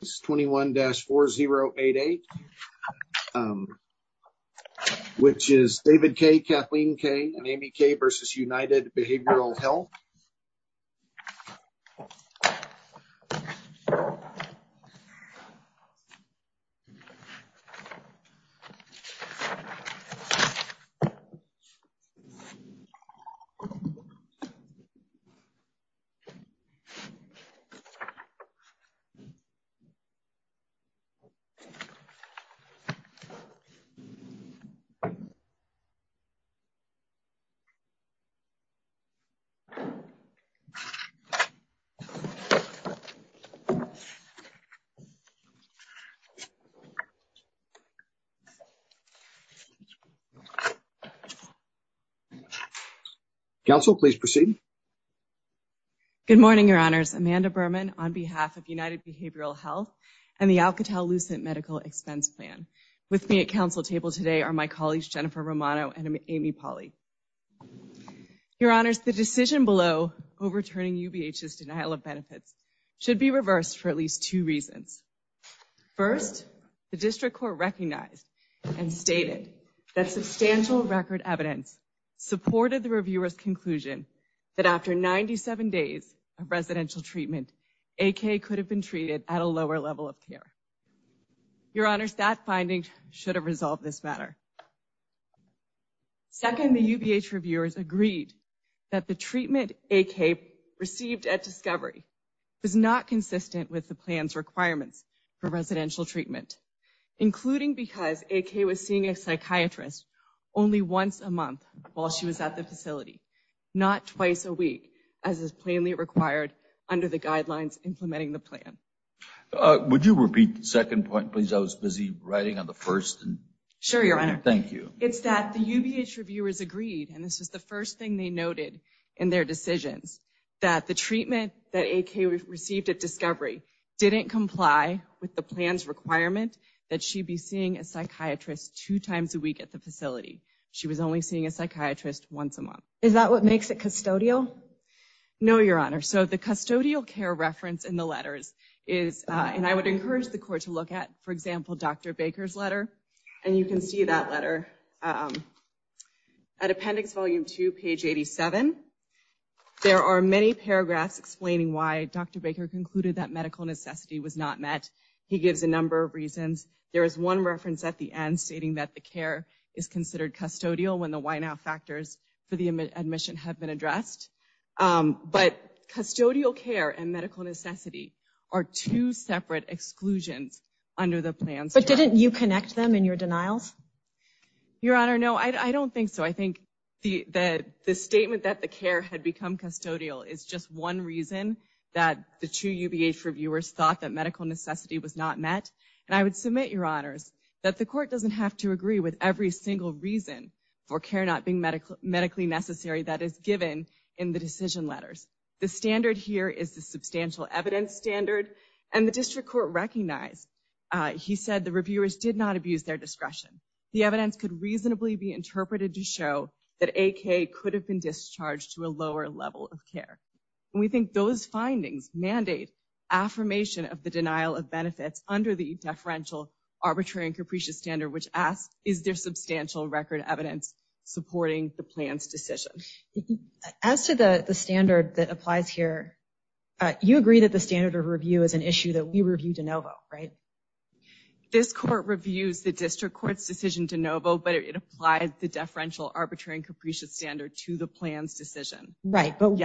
This is 21-4088, which is David K., Kathleen K., and Amy K. v. United Behavioral Health. Council, please proceed. Good morning, Your Honors. My name is Amanda Berman on behalf of United Behavioral Health and the Alcatel-Lucent Medical Expense Plan. With me at Council table today are my colleagues Jennifer Romano and Amy Pauley. Your Honors, the decision below overturning UBH's denial of benefits should be reversed for at least two reasons. First, the District Court recognized and stated that substantial record evidence supported the reviewer's conclusion that after 97 days of residential treatment, A.K. could have been treated at a lower level of care. Your Honors, that finding should have resolved this matter. Second, the UBH reviewers agreed that the treatment A.K. received at discovery was not consistent with the plan's requirements for residential treatment, including because A.K. was seeing a psychiatrist only once a month while she was at the facility, not twice a week as is plainly required under the guidelines implementing the plan. Would you repeat the second point, please? I was busy writing on the first. Sure, Your Honor. Thank you. It's that the UBH reviewers agreed, and this was the first thing they noted in their decisions, that the treatment that A.K. received at discovery didn't comply with the plan's requirement that she be seeing a psychiatrist two times a week at the facility. She was only seeing a psychiatrist once a month. Is that what makes it custodial? No, Your Honor. So the custodial care reference in the letters is, and I would encourage the Court to look at, for example, Dr. Baker's letter. And you can see that letter at Appendix Volume 2, page 87. There are many paragraphs explaining why Dr. Baker concluded that medical necessity was not met. He gives a number of reasons. There is one reference at the end stating that the care is considered custodial when the why-now factors for the admission have been addressed. But custodial care and medical necessity are two separate exclusions under the plan. But didn't you connect them in your denials? Your Honor, no. I don't think so. I think that the statement that the care had become custodial is just one reason that the true UBH reviewers thought that medical necessity was not met. And I would submit, Your Honors, that the Court doesn't have to agree with every single reason for care not being medically necessary that is given in the decision letters. The standard here is the substantial evidence standard. And the District Court recognized, he said, the reviewers did not abuse their discretion. The evidence could reasonably be interpreted to show that AK could have been discharged to a lower level of care. We think those findings mandate affirmation of the denial of benefits under the deferential arbitrary and capricious standard, which asks, is there substantial record evidence supporting the plan's decision? As to the standard that applies here, you agree that the standard of review is an issue that we review de novo, right? This Court reviews the District Court's decision de novo, but it applies the deferential arbitrary and capricious standard to the plan's decision. Right. But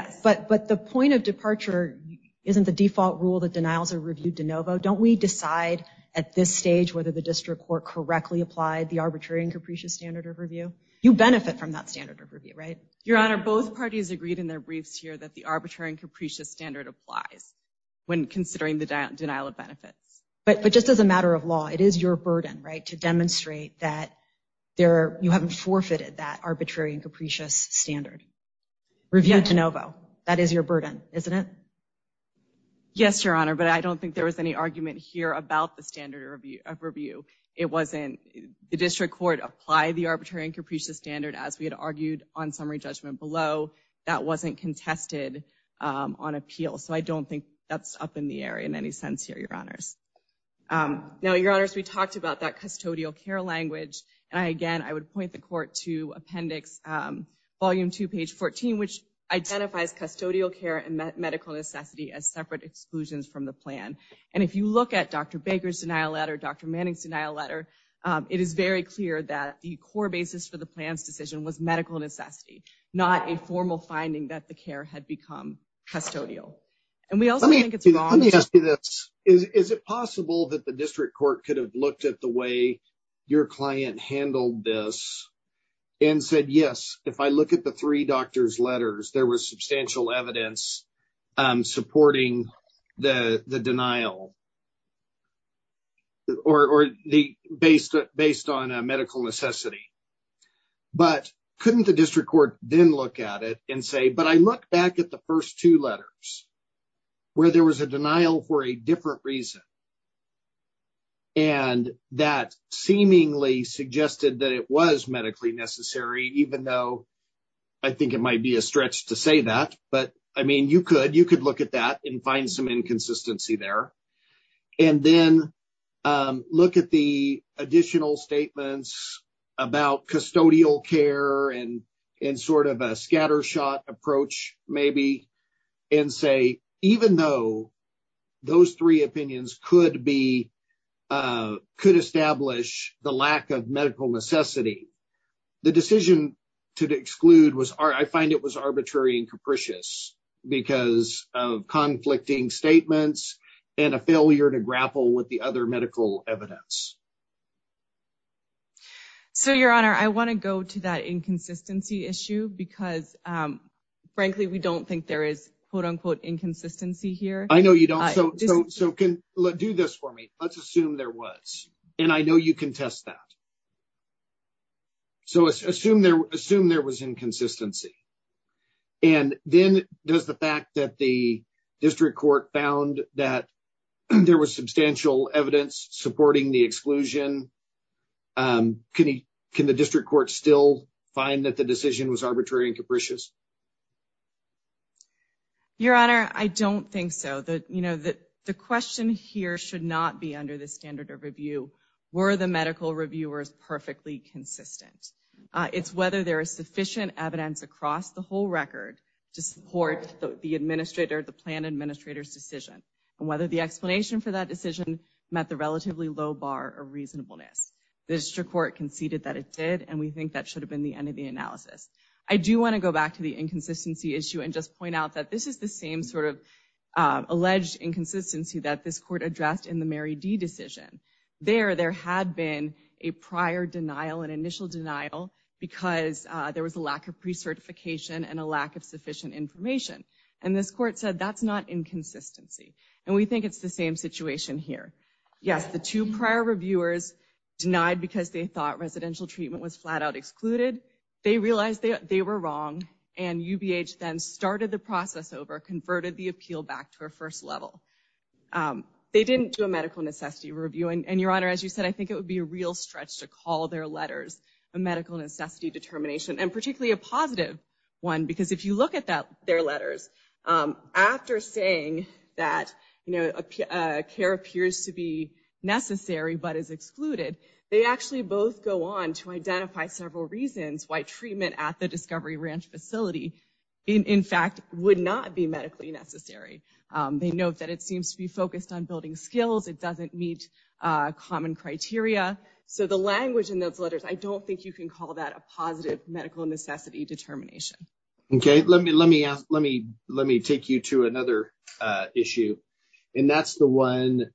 the point of departure isn't the default rule that denials are reviewed de novo. Don't we decide at this stage whether the District Court correctly applied the arbitrary and capricious standard of review? You benefit from that standard of review, right? Your Honor, both parties agreed in their briefs here that the arbitrary and capricious standard applies when considering the denial of benefits. But just as a matter of law, it is your burden, right, to demonstrate that you haven't forfeited that arbitrary and capricious standard. Review de novo. That is your burden, isn't it? Yes, Your Honor, but I don't think there was any argument here about the standard of review. It wasn't the District Court apply the arbitrary and capricious standard as we had argued on summary judgment below. That wasn't contested on appeal. So I don't think that's up in the air in any sense here, Your Honors. Now, Your Honors, we talked about that custodial care language. And again, I would point the Court to Appendix Volume 2, page 14, which identifies custodial care and medical necessity as separate exclusions from the plan. And if you look at Dr. Baker's denial letter, Dr. Manning's denial letter, it is very clear that the core basis for the plan's decision was medical necessity, not a formal finding that the care had become custodial. And we also think it's wrong to... Let me ask you this. Is it possible that the District Court could have looked at the way your client handled this and said, yes, if I look at the three doctors' letters, there was substantial evidence supporting the denial based on a medical necessity. But couldn't the District Court then look at it and say, but I look back at the first two letters where there was a denial for a different reason, and that seemingly suggested that it was medically necessary, even though I think it might be a stretch to say that. But I mean, you could. You could look at that and find some inconsistency there. And then look at the additional statements about custodial care and sort of a scattershot approach maybe, and say, even though those three opinions could establish the lack of medical necessity, the decision to exclude was, I find it was arbitrary and capricious because of conflicting statements and a failure to grapple with the other medical evidence. So, Your Honor, I want to go to that inconsistency issue because, frankly, we don't think there is quote-unquote inconsistency here. I know you don't. So do this for me. Let's assume there was, and I know you can test that. So assume there was inconsistency. And then does the fact that the District Court found that there was substantial evidence supporting the exclusion, can the District Court still find that the decision was arbitrary and capricious? Your Honor, I don't think so. The question here should not be under the standard of review, were the medical reviewers perfectly consistent? It's whether there is sufficient evidence across the whole record to support the administrator, the plan administrator's decision, and whether the explanation for that decision met the relatively low bar of reasonableness. The District Court conceded that it did, and we think that should have been the end of the analysis. I do want to go back to the inconsistency issue and just point out that this is the same sort of alleged inconsistency that this Court addressed in the Mary D. decision. There, there had been a prior denial, an initial denial, because there was a lack of precertification and a lack of sufficient information. And this Court said that's not inconsistency. And we think it's the same situation here. Yes, the two prior reviewers denied because they thought residential treatment was flat out excluded. They realized they were wrong, and UBH then started the process over, converted the appeal back to a first level. They didn't do a medical necessity review, and Your Honor, as you said, I think it would be a real stretch to call their letters a medical necessity determination, and particularly a positive one, because if you look at their letters, after saying that, you know, a care appears to be necessary but is excluded, they actually both go on to identify several reasons why treatment at the Discovery Ranch facility, in fact, would not be medically necessary. They note that it seems to be focused on building skills. It doesn't meet common criteria. So the language in those letters, I don't think you can call that a positive medical necessity determination. Okay. Let me, let me ask, let me, let me take you to another issue. And that's the one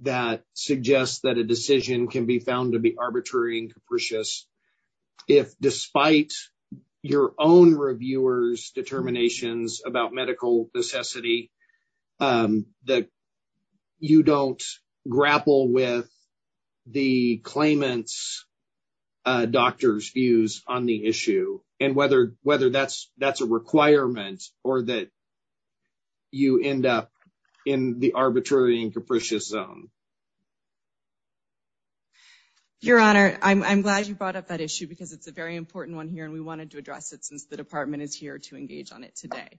that suggests that a decision can be found to be arbitrary and capricious if despite your own reviewers' determinations about medical necessity, that you don't grapple with the claimant's doctor's views on the issue, and whether, whether that's, that's a requirement, or that you end up in the arbitrary and capricious zone. Your Honor, I'm glad you brought up that issue because it's a very important one here, and we wanted to address it since the department is here to engage on it today.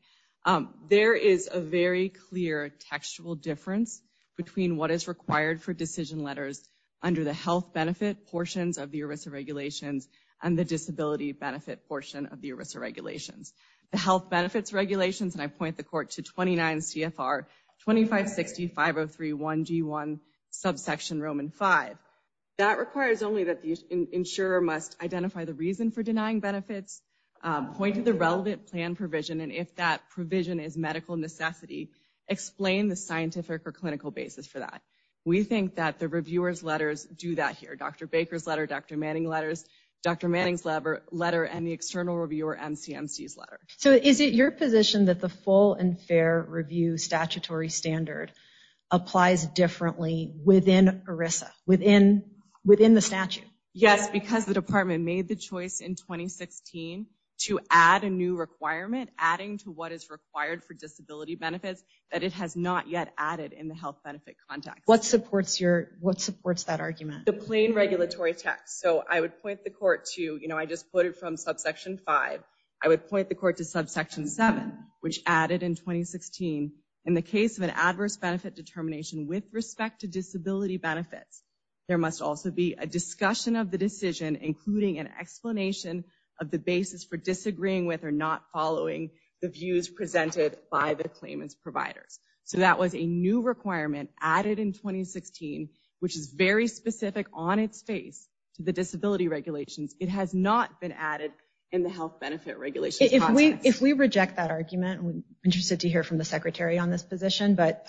There is a very clear textual difference between what is required for decision letters under the health benefit portions of the ERISA regulations, and the disability benefit portion of the ERISA regulations. The health benefits regulations, and I point the Court to 29 CFR 2560-503-1G1, subsection Roman 5. That requires only that the insurer must identify the reason for denying benefits, point to the relevant plan provision, and if that provision is medical necessity, explain the scientific or clinical basis for that. We think that the reviewer's letters do that here. Dr. Baker's letter, Dr. Manning letters, Dr. Manning's letter, and the external reviewer MCMC's letter. So is it your position that the full and fair review statutory standard applies differently within ERISA, within the statute? Yes, because the department made the choice in 2016 to add a new requirement, adding to what is required for disability benefits, that it has not yet added in the health benefit context. What supports that argument? The plain regulatory text. So I would point the Court to, you know, I just put it from subsection 5, I would point the Court to subsection 7, which added in 2016, in the case of an adverse benefit determination with respect to disability benefits, there must also be a discussion of the decision, including an explanation of the basis for disagreeing with or not following the views presented by the claimant's providers. So that was a new requirement added in 2016, which is very specific on its face to the disability regulations. It has not been added in the health benefit regulations context. If we reject that argument, we're interested to hear from the Secretary on this position, but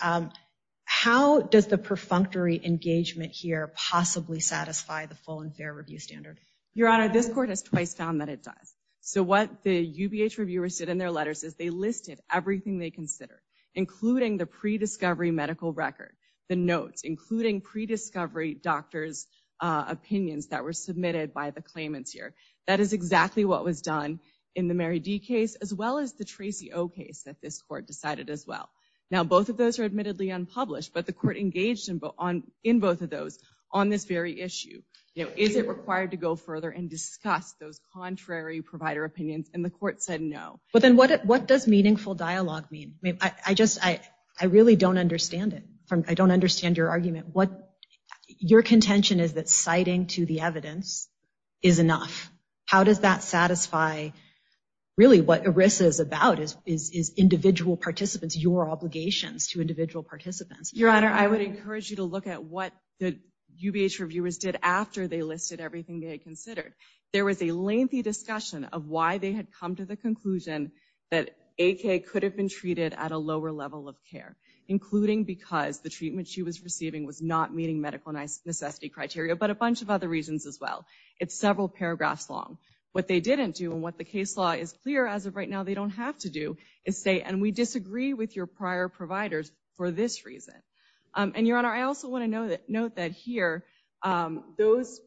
how does the perfunctory engagement here possibly satisfy the full and fair review standard? Your Honor, this Court has twice found that it does. So what the UBH reviewers did in their letters is they listed everything they considered, including the prediscovery medical record, the notes, including prediscovery doctors' opinions that were submitted by the claimants here. That is exactly what was done in the Mary D. case, as well as the Tracy O. case that this Court decided as well. Now both of those are admittedly unpublished, but the Court engaged in both of those on this very issue. You know, is it required to go further and discuss those contrary provider opinions? And the Court said no. But then what does meaningful dialogue mean? I just, I really don't understand it. I don't understand your argument. Your contention is that citing to the evidence is enough. How does that satisfy really what ERISA is about, is individual participants, your obligations to individual participants? Your Honor, I would encourage you to look at what the UBH reviewers did after they listed everything they considered. There was a lengthy discussion of why they had come to the conclusion that AK could have been treated at a lower level of care, including because the treatment she was receiving was not meeting medical necessity criteria, but a bunch of other reasons as well. It's several paragraphs long. What they didn't do and what the case law is clear as of right now they don't have to do is say, and we disagree with your prior providers for this reason. And Your Honor, I also want to note that here, those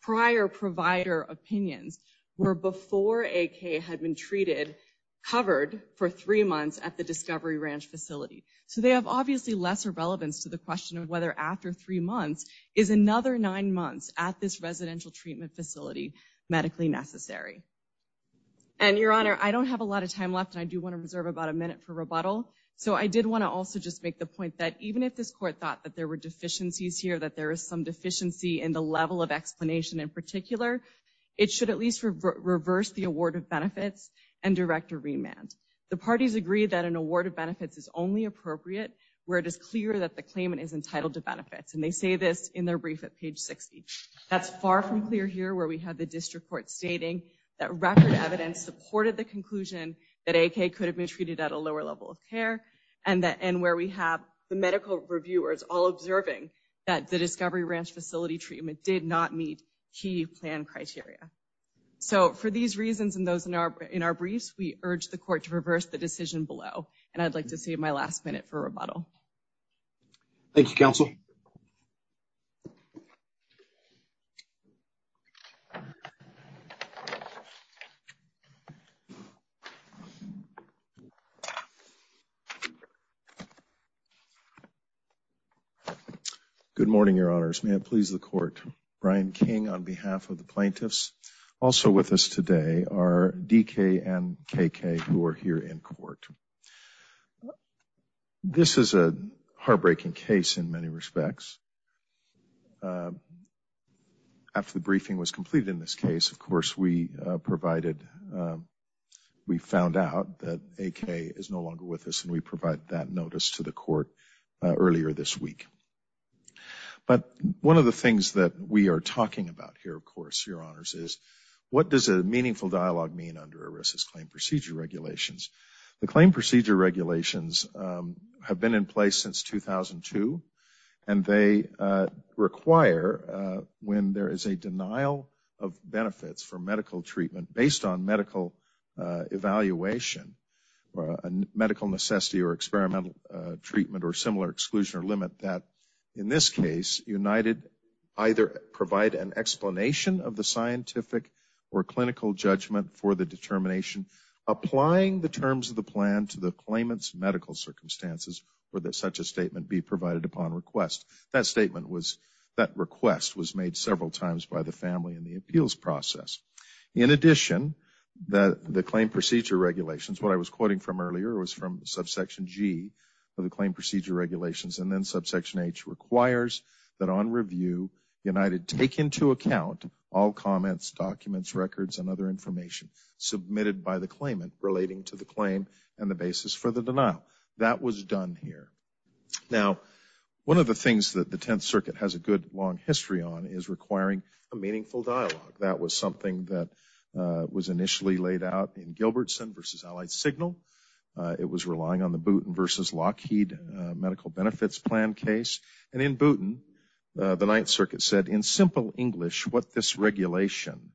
prior provider opinions were before AK had been treated, covered for three months at the Discovery Ranch facility. So they have obviously lesser relevance to the question of whether after three months is another nine months at this residential treatment facility medically necessary. And Your Honor, I don't have a lot of time left and I do want to reserve about a minute for rebuttal. So I did want to also just make the point that even if this court thought that there were deficiencies here, that there is some deficiency in the level of explanation in and direct a remand. The parties agree that an award of benefits is only appropriate where it is clear that the claimant is entitled to benefits. And they say this in their brief at page 60. That's far from clear here where we have the district court stating that record evidence supported the conclusion that AK could have been treated at a lower level of care and where we have the medical reviewers all observing that the Discovery Ranch facility treatment did not meet key plan criteria. So for these reasons and those in our briefs, we urge the court to reverse the decision below and I'd like to save my last minute for rebuttal. Thank you, counsel. Good morning, Your Honors. May it please the court. Brian King on behalf of the plaintiffs. Also with us today are DK and KK who are here in court. This is a heartbreaking case in many respects. After the briefing was completed in this case, of course, we provided, we found out that AK is no longer with us and we provided that notice to the court earlier this week. But one of the things that we are talking about here, of course, Your Honors, is what does a meaningful dialogue mean under ERISA's claim procedure regulations? The claim procedure regulations have been in place since 2002 and they require when there is a denial of benefits for medical treatment based on medical evaluation or medical necessity or experimental treatment or similar exclusion or limit that, in this case, United either provide an explanation of the scientific or clinical judgment for the determination applying the terms of the plan to the claimant's medical circumstances or that such a statement be provided upon request. That statement was, that request was made several times by the family in the appeals process. In addition, the claim procedure regulations, what I was quoting from earlier, was from subsection G of the claim procedure regulations and then subsection H requires that on review United take into account all comments, documents, records, and other information submitted by the claimant relating to the claim and the basis for the denial. That was done here. Now one of the things that the Tenth Circuit has a good long history on is requiring a meaningful dialogue. That was something that was initially laid out in Gilbertson v. Allied Signal. It was relying on the Booton v. Lockheed medical benefits plan case and in Booton, the Ninth Circuit said, in simple English, what this regulation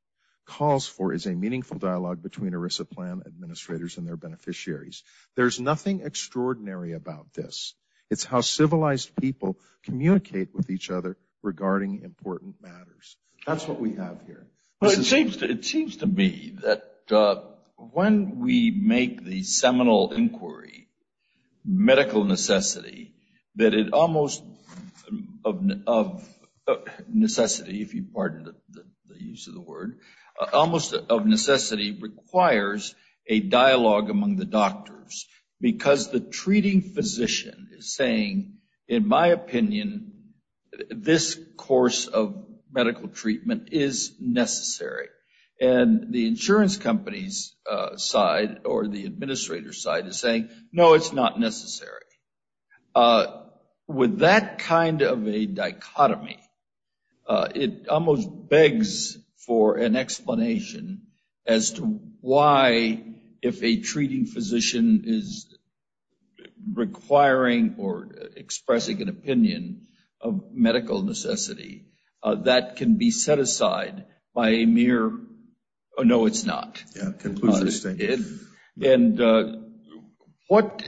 calls for is a meaningful dialogue between ERISA plan administrators and their beneficiaries. There's nothing extraordinary about this. It's how civilized people communicate with each other regarding important matters. That's what we have here. It seems to me that when we make the seminal inquiry, medical necessity, that it almost of necessity, if you pardon the use of the word, almost of necessity requires a dialogue among the doctors. Because the treating physician is saying, in my opinion, this course of medical treatment is necessary. And the insurance company's side or the administrator's side is saying, no, it's not necessary. With that kind of a dichotomy, it almost begs for an explanation as to why, if a treating physician is requiring or expressing an opinion of medical necessity, that can be set aside by a mere, oh, no, it's not. Yeah, it concludes your statement. And what,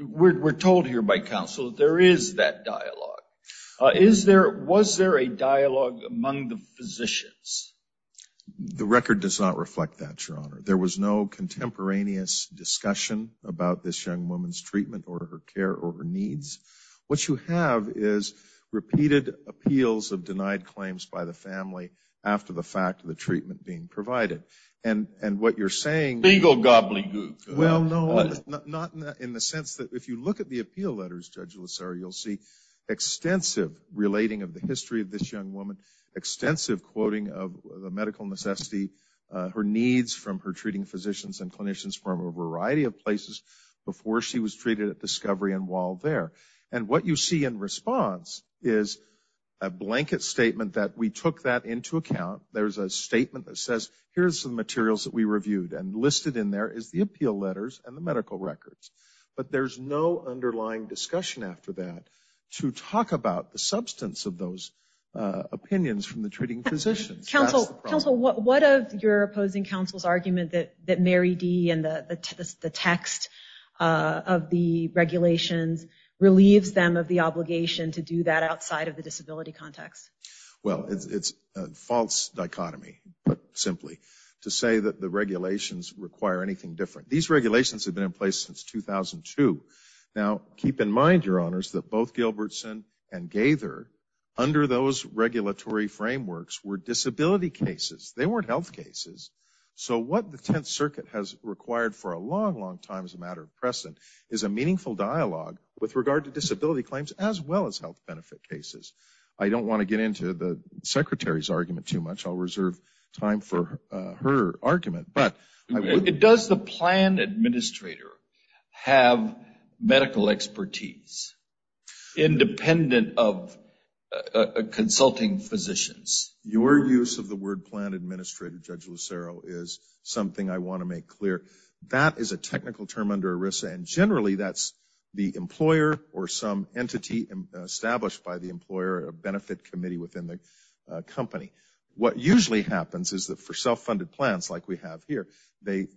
we're told here by counsel that there is that dialogue. Is there, was there a dialogue among the physicians? The record does not reflect that, Your Honor. There was no contemporaneous discussion about this young woman's treatment or her care or her needs. What you have is repeated appeals of denied claims by the family after the fact of the treatment being provided. And what you're saying- Beagle, gobbling, gook. Well, no, not in the sense that, if you look at the appeal letters, Judge LoSera, you'll see extensive relating of the history of this young woman, extensive quoting of the medical necessity, her needs from her treating physicians and clinicians from a variety of places before she was treated at Discovery and Wald there. And what you see in response is a blanket statement that we took that into account. There's a statement that says, here's the materials that we reviewed, and listed in there is the appeal letters and the medical records. But there's no underlying discussion after that to talk about the substance of those opinions from the treating physicians. Counsel, what of your opposing counsel's argument that Mary D. and the text of the regulations relieves them of the obligation to do that outside of the disability context? Well, it's a false dichotomy, put simply, to say that the regulations require anything different. These regulations have been in place since 2002. Now, keep in mind, Your Honors, that both Gilbertson and Gaither, under those regulatory frameworks, were disability cases. They weren't health cases. So what the Tenth Circuit has required for a long, long time as a matter of precedent is a meaningful dialogue with regard to disability claims as well as health benefit cases. I don't want to get into the Secretary's argument too much. I'll reserve time for her argument. But I would... Your use of the word plan administrator, Judge Lucero, is something I want to make clear. That is a technical term under ERISA, and generally that's the employer or some entity established by the employer, a benefit committee within the company. What usually happens is that for self-funded plans, like we have here, the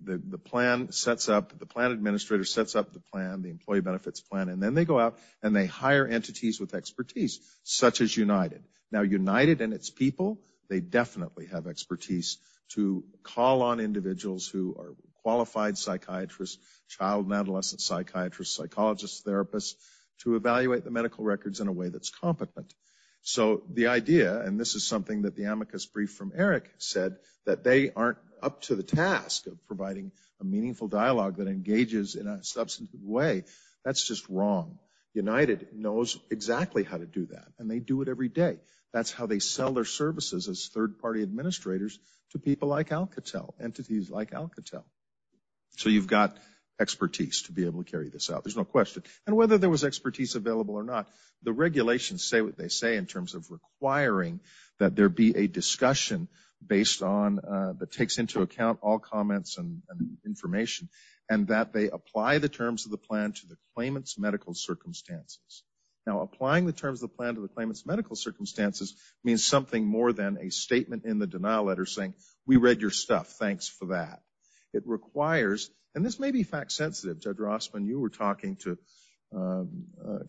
plan sets up, the plan administrator sets up the plan, the employee benefits plan, and then they go out and they hire entities with expertise, such as United. Now, United and its people, they definitely have expertise to call on individuals who are qualified psychiatrists, child and adolescent psychiatrists, psychologists, therapists, to evaluate the medical records in a way that's competent. So the idea, and this is something that the amicus brief from Eric said, that they aren't up to the task of providing a meaningful dialogue that engages in a substantive way, that's just wrong. United knows exactly how to do that, and they do it every day. That's how they sell their services as third-party administrators to people like Alcatel, entities like Alcatel. So you've got expertise to be able to carry this out, there's no question. And whether there was expertise available or not, the regulations say what they say in terms of requiring that there be a discussion based on, that takes into account all comments and information, and that they apply the terms of the plan to the claimant's medical circumstances. Now, applying the terms of the plan to the claimant's medical circumstances means something more than a statement in the denial letter saying, we read your stuff, thanks for that. It requires, and this may be fact-sensitive, Judge Rossman, you were talking to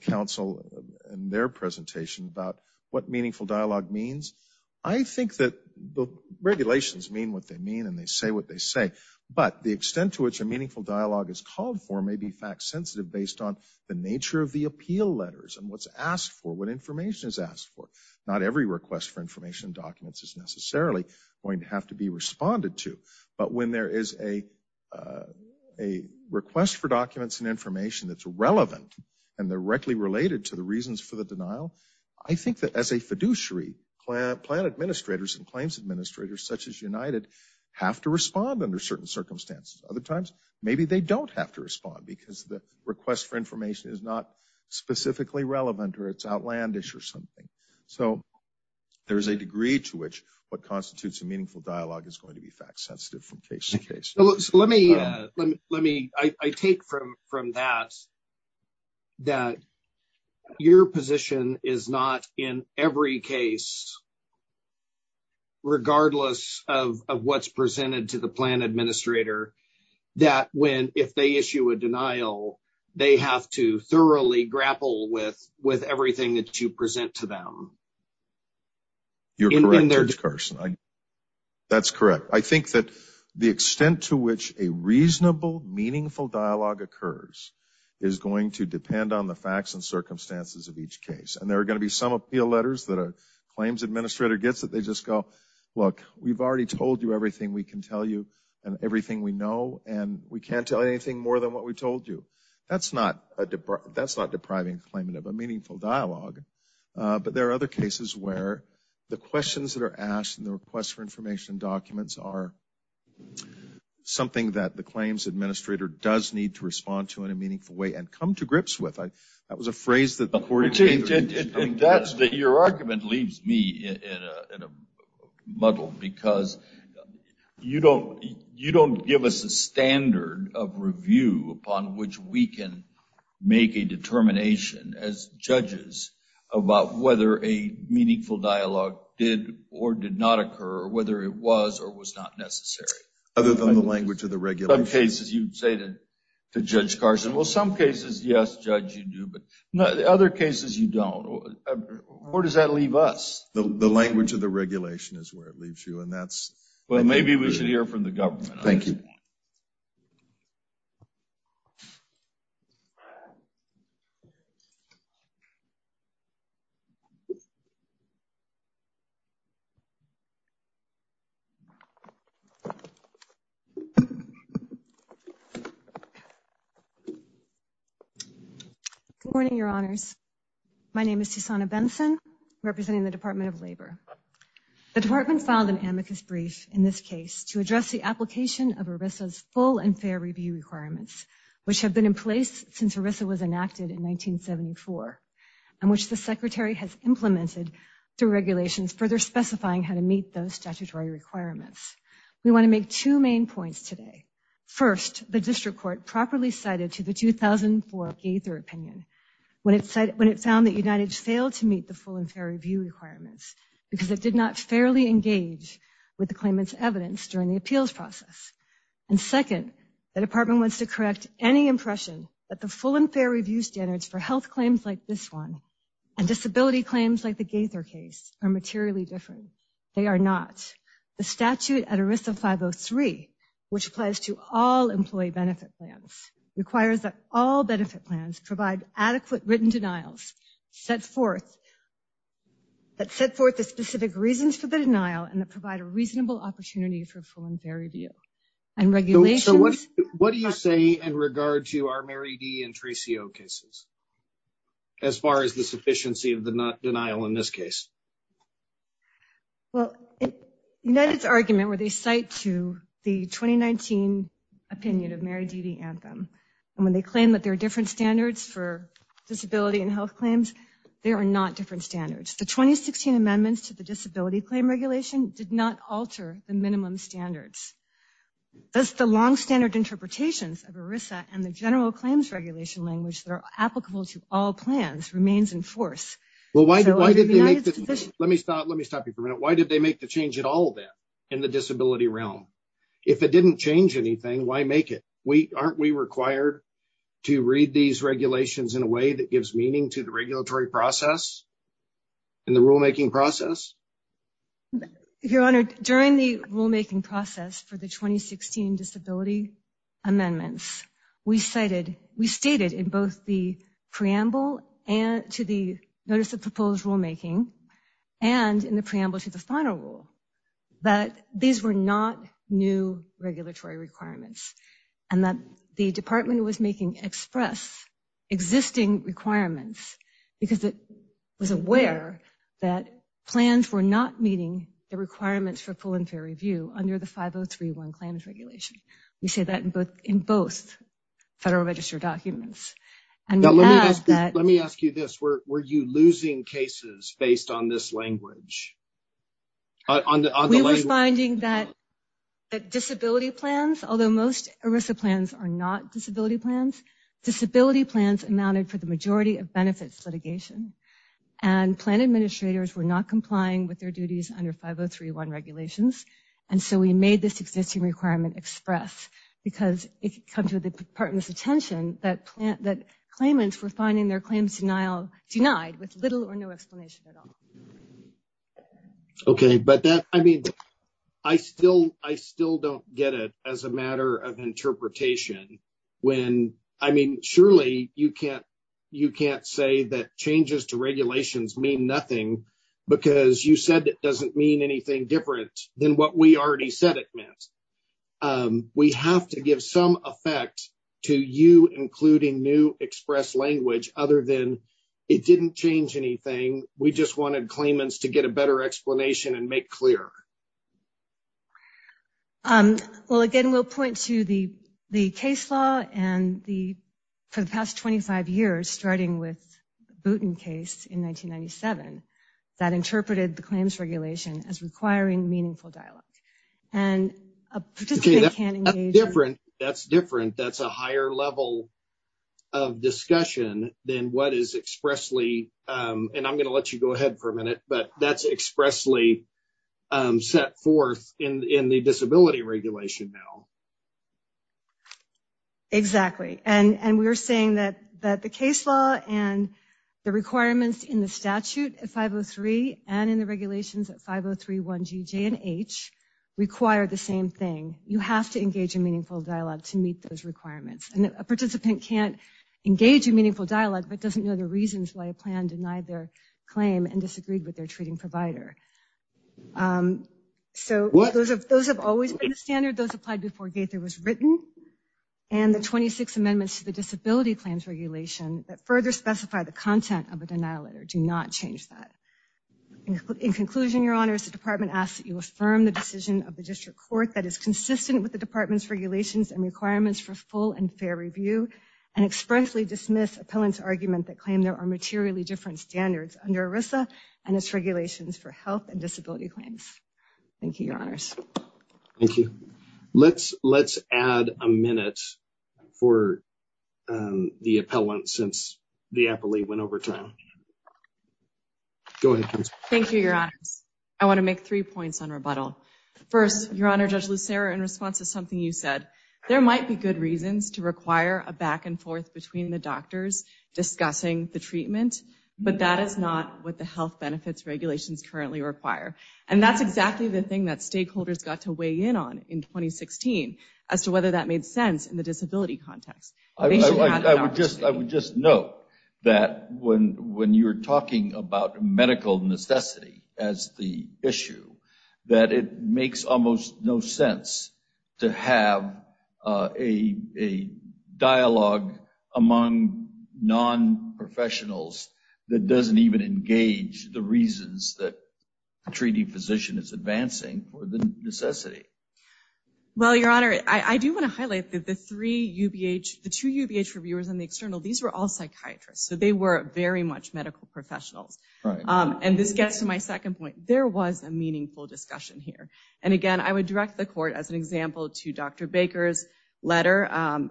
counsel in their presentation about what meaningful dialogue means. I think that the regulations mean what they mean and they say what they say, but the extent to which a meaningful dialogue is called for may be fact-sensitive based on the nature of the appeal letters and what's asked for, what information is asked for. Not every request for information and documents is necessarily going to have to be responded to, but when there is a request for documents and information that's relevant and directly related to the reasons for the denial, I think that as a fiduciary, plan administrators and claims administrators, such as United, have to respond under certain circumstances. Other times, maybe they don't have to respond because the request for information is not specifically relevant or it's outlandish or something. So there's a degree to which what constitutes a meaningful dialogue is going to be fact-sensitive from case to case. So let me, I take from that, that your position is not in every case, regardless of what's presented to the plan administrator, that when, if they issue a denial, they have to thoroughly grapple with everything that you present to them. You're correct, Judge Carson. That's correct. I think that the extent to which a reasonable, meaningful dialogue occurs is going to depend on the facts and circumstances of each case. And there are going to be some appeal letters that a claims administrator gets that they just go, look, we've already told you everything we can tell you and everything we know, and we can't tell you anything more than what we told you. That's not depriving the claimant of a meaningful dialogue, but there are other cases where the questions that are asked and the requests for information and documents are something that the claims administrator does need to respond to in a meaningful way and come to grips with. That was a phrase that the Court of Appeals used. Your argument leaves me in a muddle because you don't give us a standard of review upon which we can make a determination as judges about whether a meaningful dialogue did or did not occur, or whether it was or was not necessary. Other than the language of the regulation. Some cases you say to Judge Carson, well, some cases, yes, Judge, you do, but the other cases you don't. Where does that leave us? The language of the regulation is where it leaves you, and that's... Well, maybe we should hear from the government. Thank you. Good morning, Your Honors. My name is Susana Benson, representing the Department of Labor. The Department filed an amicus brief in this case to address the application of ERISA's full and fair review requirements, which have been in place since ERISA was enacted in 1974, and which the Secretary has implemented through regulations further specifying how to meet those statutory requirements. We want to make two main points today. First, the district court properly cited to the 2004 Gaither opinion when it found that because it did not fairly engage with the claimant's evidence during the appeals process. And second, the department wants to correct any impression that the full and fair review standards for health claims like this one and disability claims like the Gaither case are materially different. They are not. The statute at ERISA 503, which applies to all employee benefit plans, requires that all benefit plans provide adequate written denials that set forth the specific reasons for the denial and that provide a reasonable opportunity for full and fair review. And regulations... So what do you say in regard to our Mary D. and Tracy O. cases as far as the sufficiency of the denial in this case? Well, in United's argument where they cite to the 2019 opinion of Mary D.D. Anthem, when they claim that there are different standards for disability and health claims, there are not different standards. The 2016 amendments to the disability claim regulation did not alter the minimum standards. Thus the long standard interpretations of ERISA and the general claims regulation language that are applicable to all plans remains in force. Well, why did they make this... Let me stop you for a minute. Why did they make the change at all of that in the disability realm? If it didn't change anything, why make it? Aren't we required to read these regulations in a way that gives meaning to the regulatory process and the rulemaking process? Your Honor, during the rulemaking process for the 2016 disability amendments, we cited... We stated in both the preamble to the notice of proposed rulemaking and in the preamble to the final rule that these were not new regulatory requirements and that the department was making express existing requirements because it was aware that plans were not meeting the requirements for full and fair review under the 5031 claims regulation. We say that in both federal register documents. Now let me ask you this. Were you losing cases based on this language? We were finding that disability plans, although most ERISA plans are not disability plans, disability plans amounted for the majority of benefits litigation and plan administrators were not complying with their duties under 5031 regulations. And so we made this existing requirement express because it comes with the department's attention that claimants were finding their claims denied with little or no explanation at all. Okay, but that... I mean, I still don't get it as a matter of interpretation when... I mean, surely you can't say that changes to regulations mean nothing because you said it doesn't mean anything different than what we already said it meant. We have to give some effect to you including new express language other than it didn't change anything. We just wanted claimants to get a better explanation and make clear. Well, again, we'll point to the case law and for the past 25 years starting with Booten case in 1997 that interpreted the claims regulation as requiring meaningful dialogue. And a participant can't engage... Different. That's different. That's a higher level of discussion than what is expressly... And I'm going to let you go ahead for a minute, but that's expressly set forth in the disability regulation now. Exactly. And we were saying that the case law and the requirements in the statute at 503 and in regulations at 503, 1G, J and H require the same thing. You have to engage in meaningful dialogue to meet those requirements. And a participant can't engage in meaningful dialogue, but doesn't know the reasons why a plan denied their claim and disagreed with their treating provider. So those have always been the standard. Those applied before Gaither was written. And the 26 amendments to the disability claims regulation that further specify the content of a denial letter do not change that. In conclusion, your honors, the department asks that you affirm the decision of the district court that is consistent with the department's regulations and requirements for full and fair review and expressly dismiss appellant's argument that claim there are materially different standards under ERISA and its regulations for health and disability claims. Thank you, your honors. Thank you. Let's add a minute for the appellant since the appellee went over time. Thank you, your honors. I want to make three points on rebuttal. First, your honor, Judge Lucero, in response to something you said, there might be good reasons to require a back and forth between the doctors discussing the treatment, but that is not what the health benefits regulations currently require. And that's exactly the thing that stakeholders got to weigh in on in 2016 as to whether that made sense in the disability context. I would just note that when you're talking about medical necessity as the issue, that it makes almost no sense to have a dialogue among non-professionals that doesn't even engage the reasons that a treating physician is advancing for the necessity. Well, your honor, I do want to highlight that the three UBH, the two UBH reviewers and the external, these were all psychiatrists. So they were very much medical professionals. And this gets to my second point. There was a meaningful discussion here. And again, I would direct the court as an example to Dr. Baker's letter,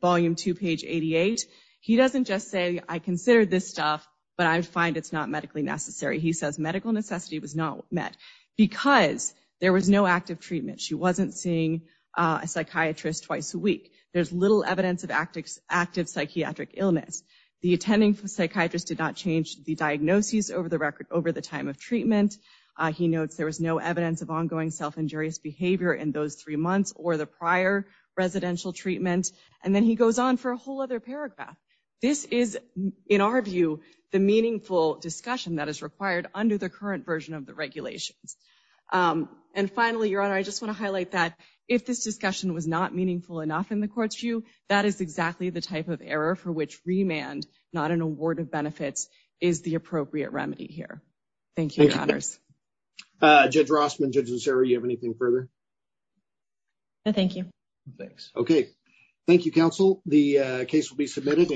volume two, page 88. He doesn't just say, I consider this stuff, but I find it's not medically necessary. He says medical necessity was not met because there was no active treatment. She wasn't seeing a psychiatrist twice a week. There's little evidence of active psychiatric illness. The attending psychiatrist did not change the diagnoses over the record over the time of treatment. He notes there was no evidence of ongoing self-injurious behavior in those three months or the prior residential treatment. And then he goes on for a whole other paragraph. This is, in our view, the meaningful discussion that is required under the current version of the regulations. And finally, your honor, I just want to highlight that if this discussion was not meaningful enough in the court's view, that is exactly the type of error for which remand, not an award of benefits, is the appropriate remedy here. Thank you, your honors. Judge Rossman, Judge Lucero, you have anything further? No, thank you. Thanks. Okay. Thank you, counsel. The case will be submitted.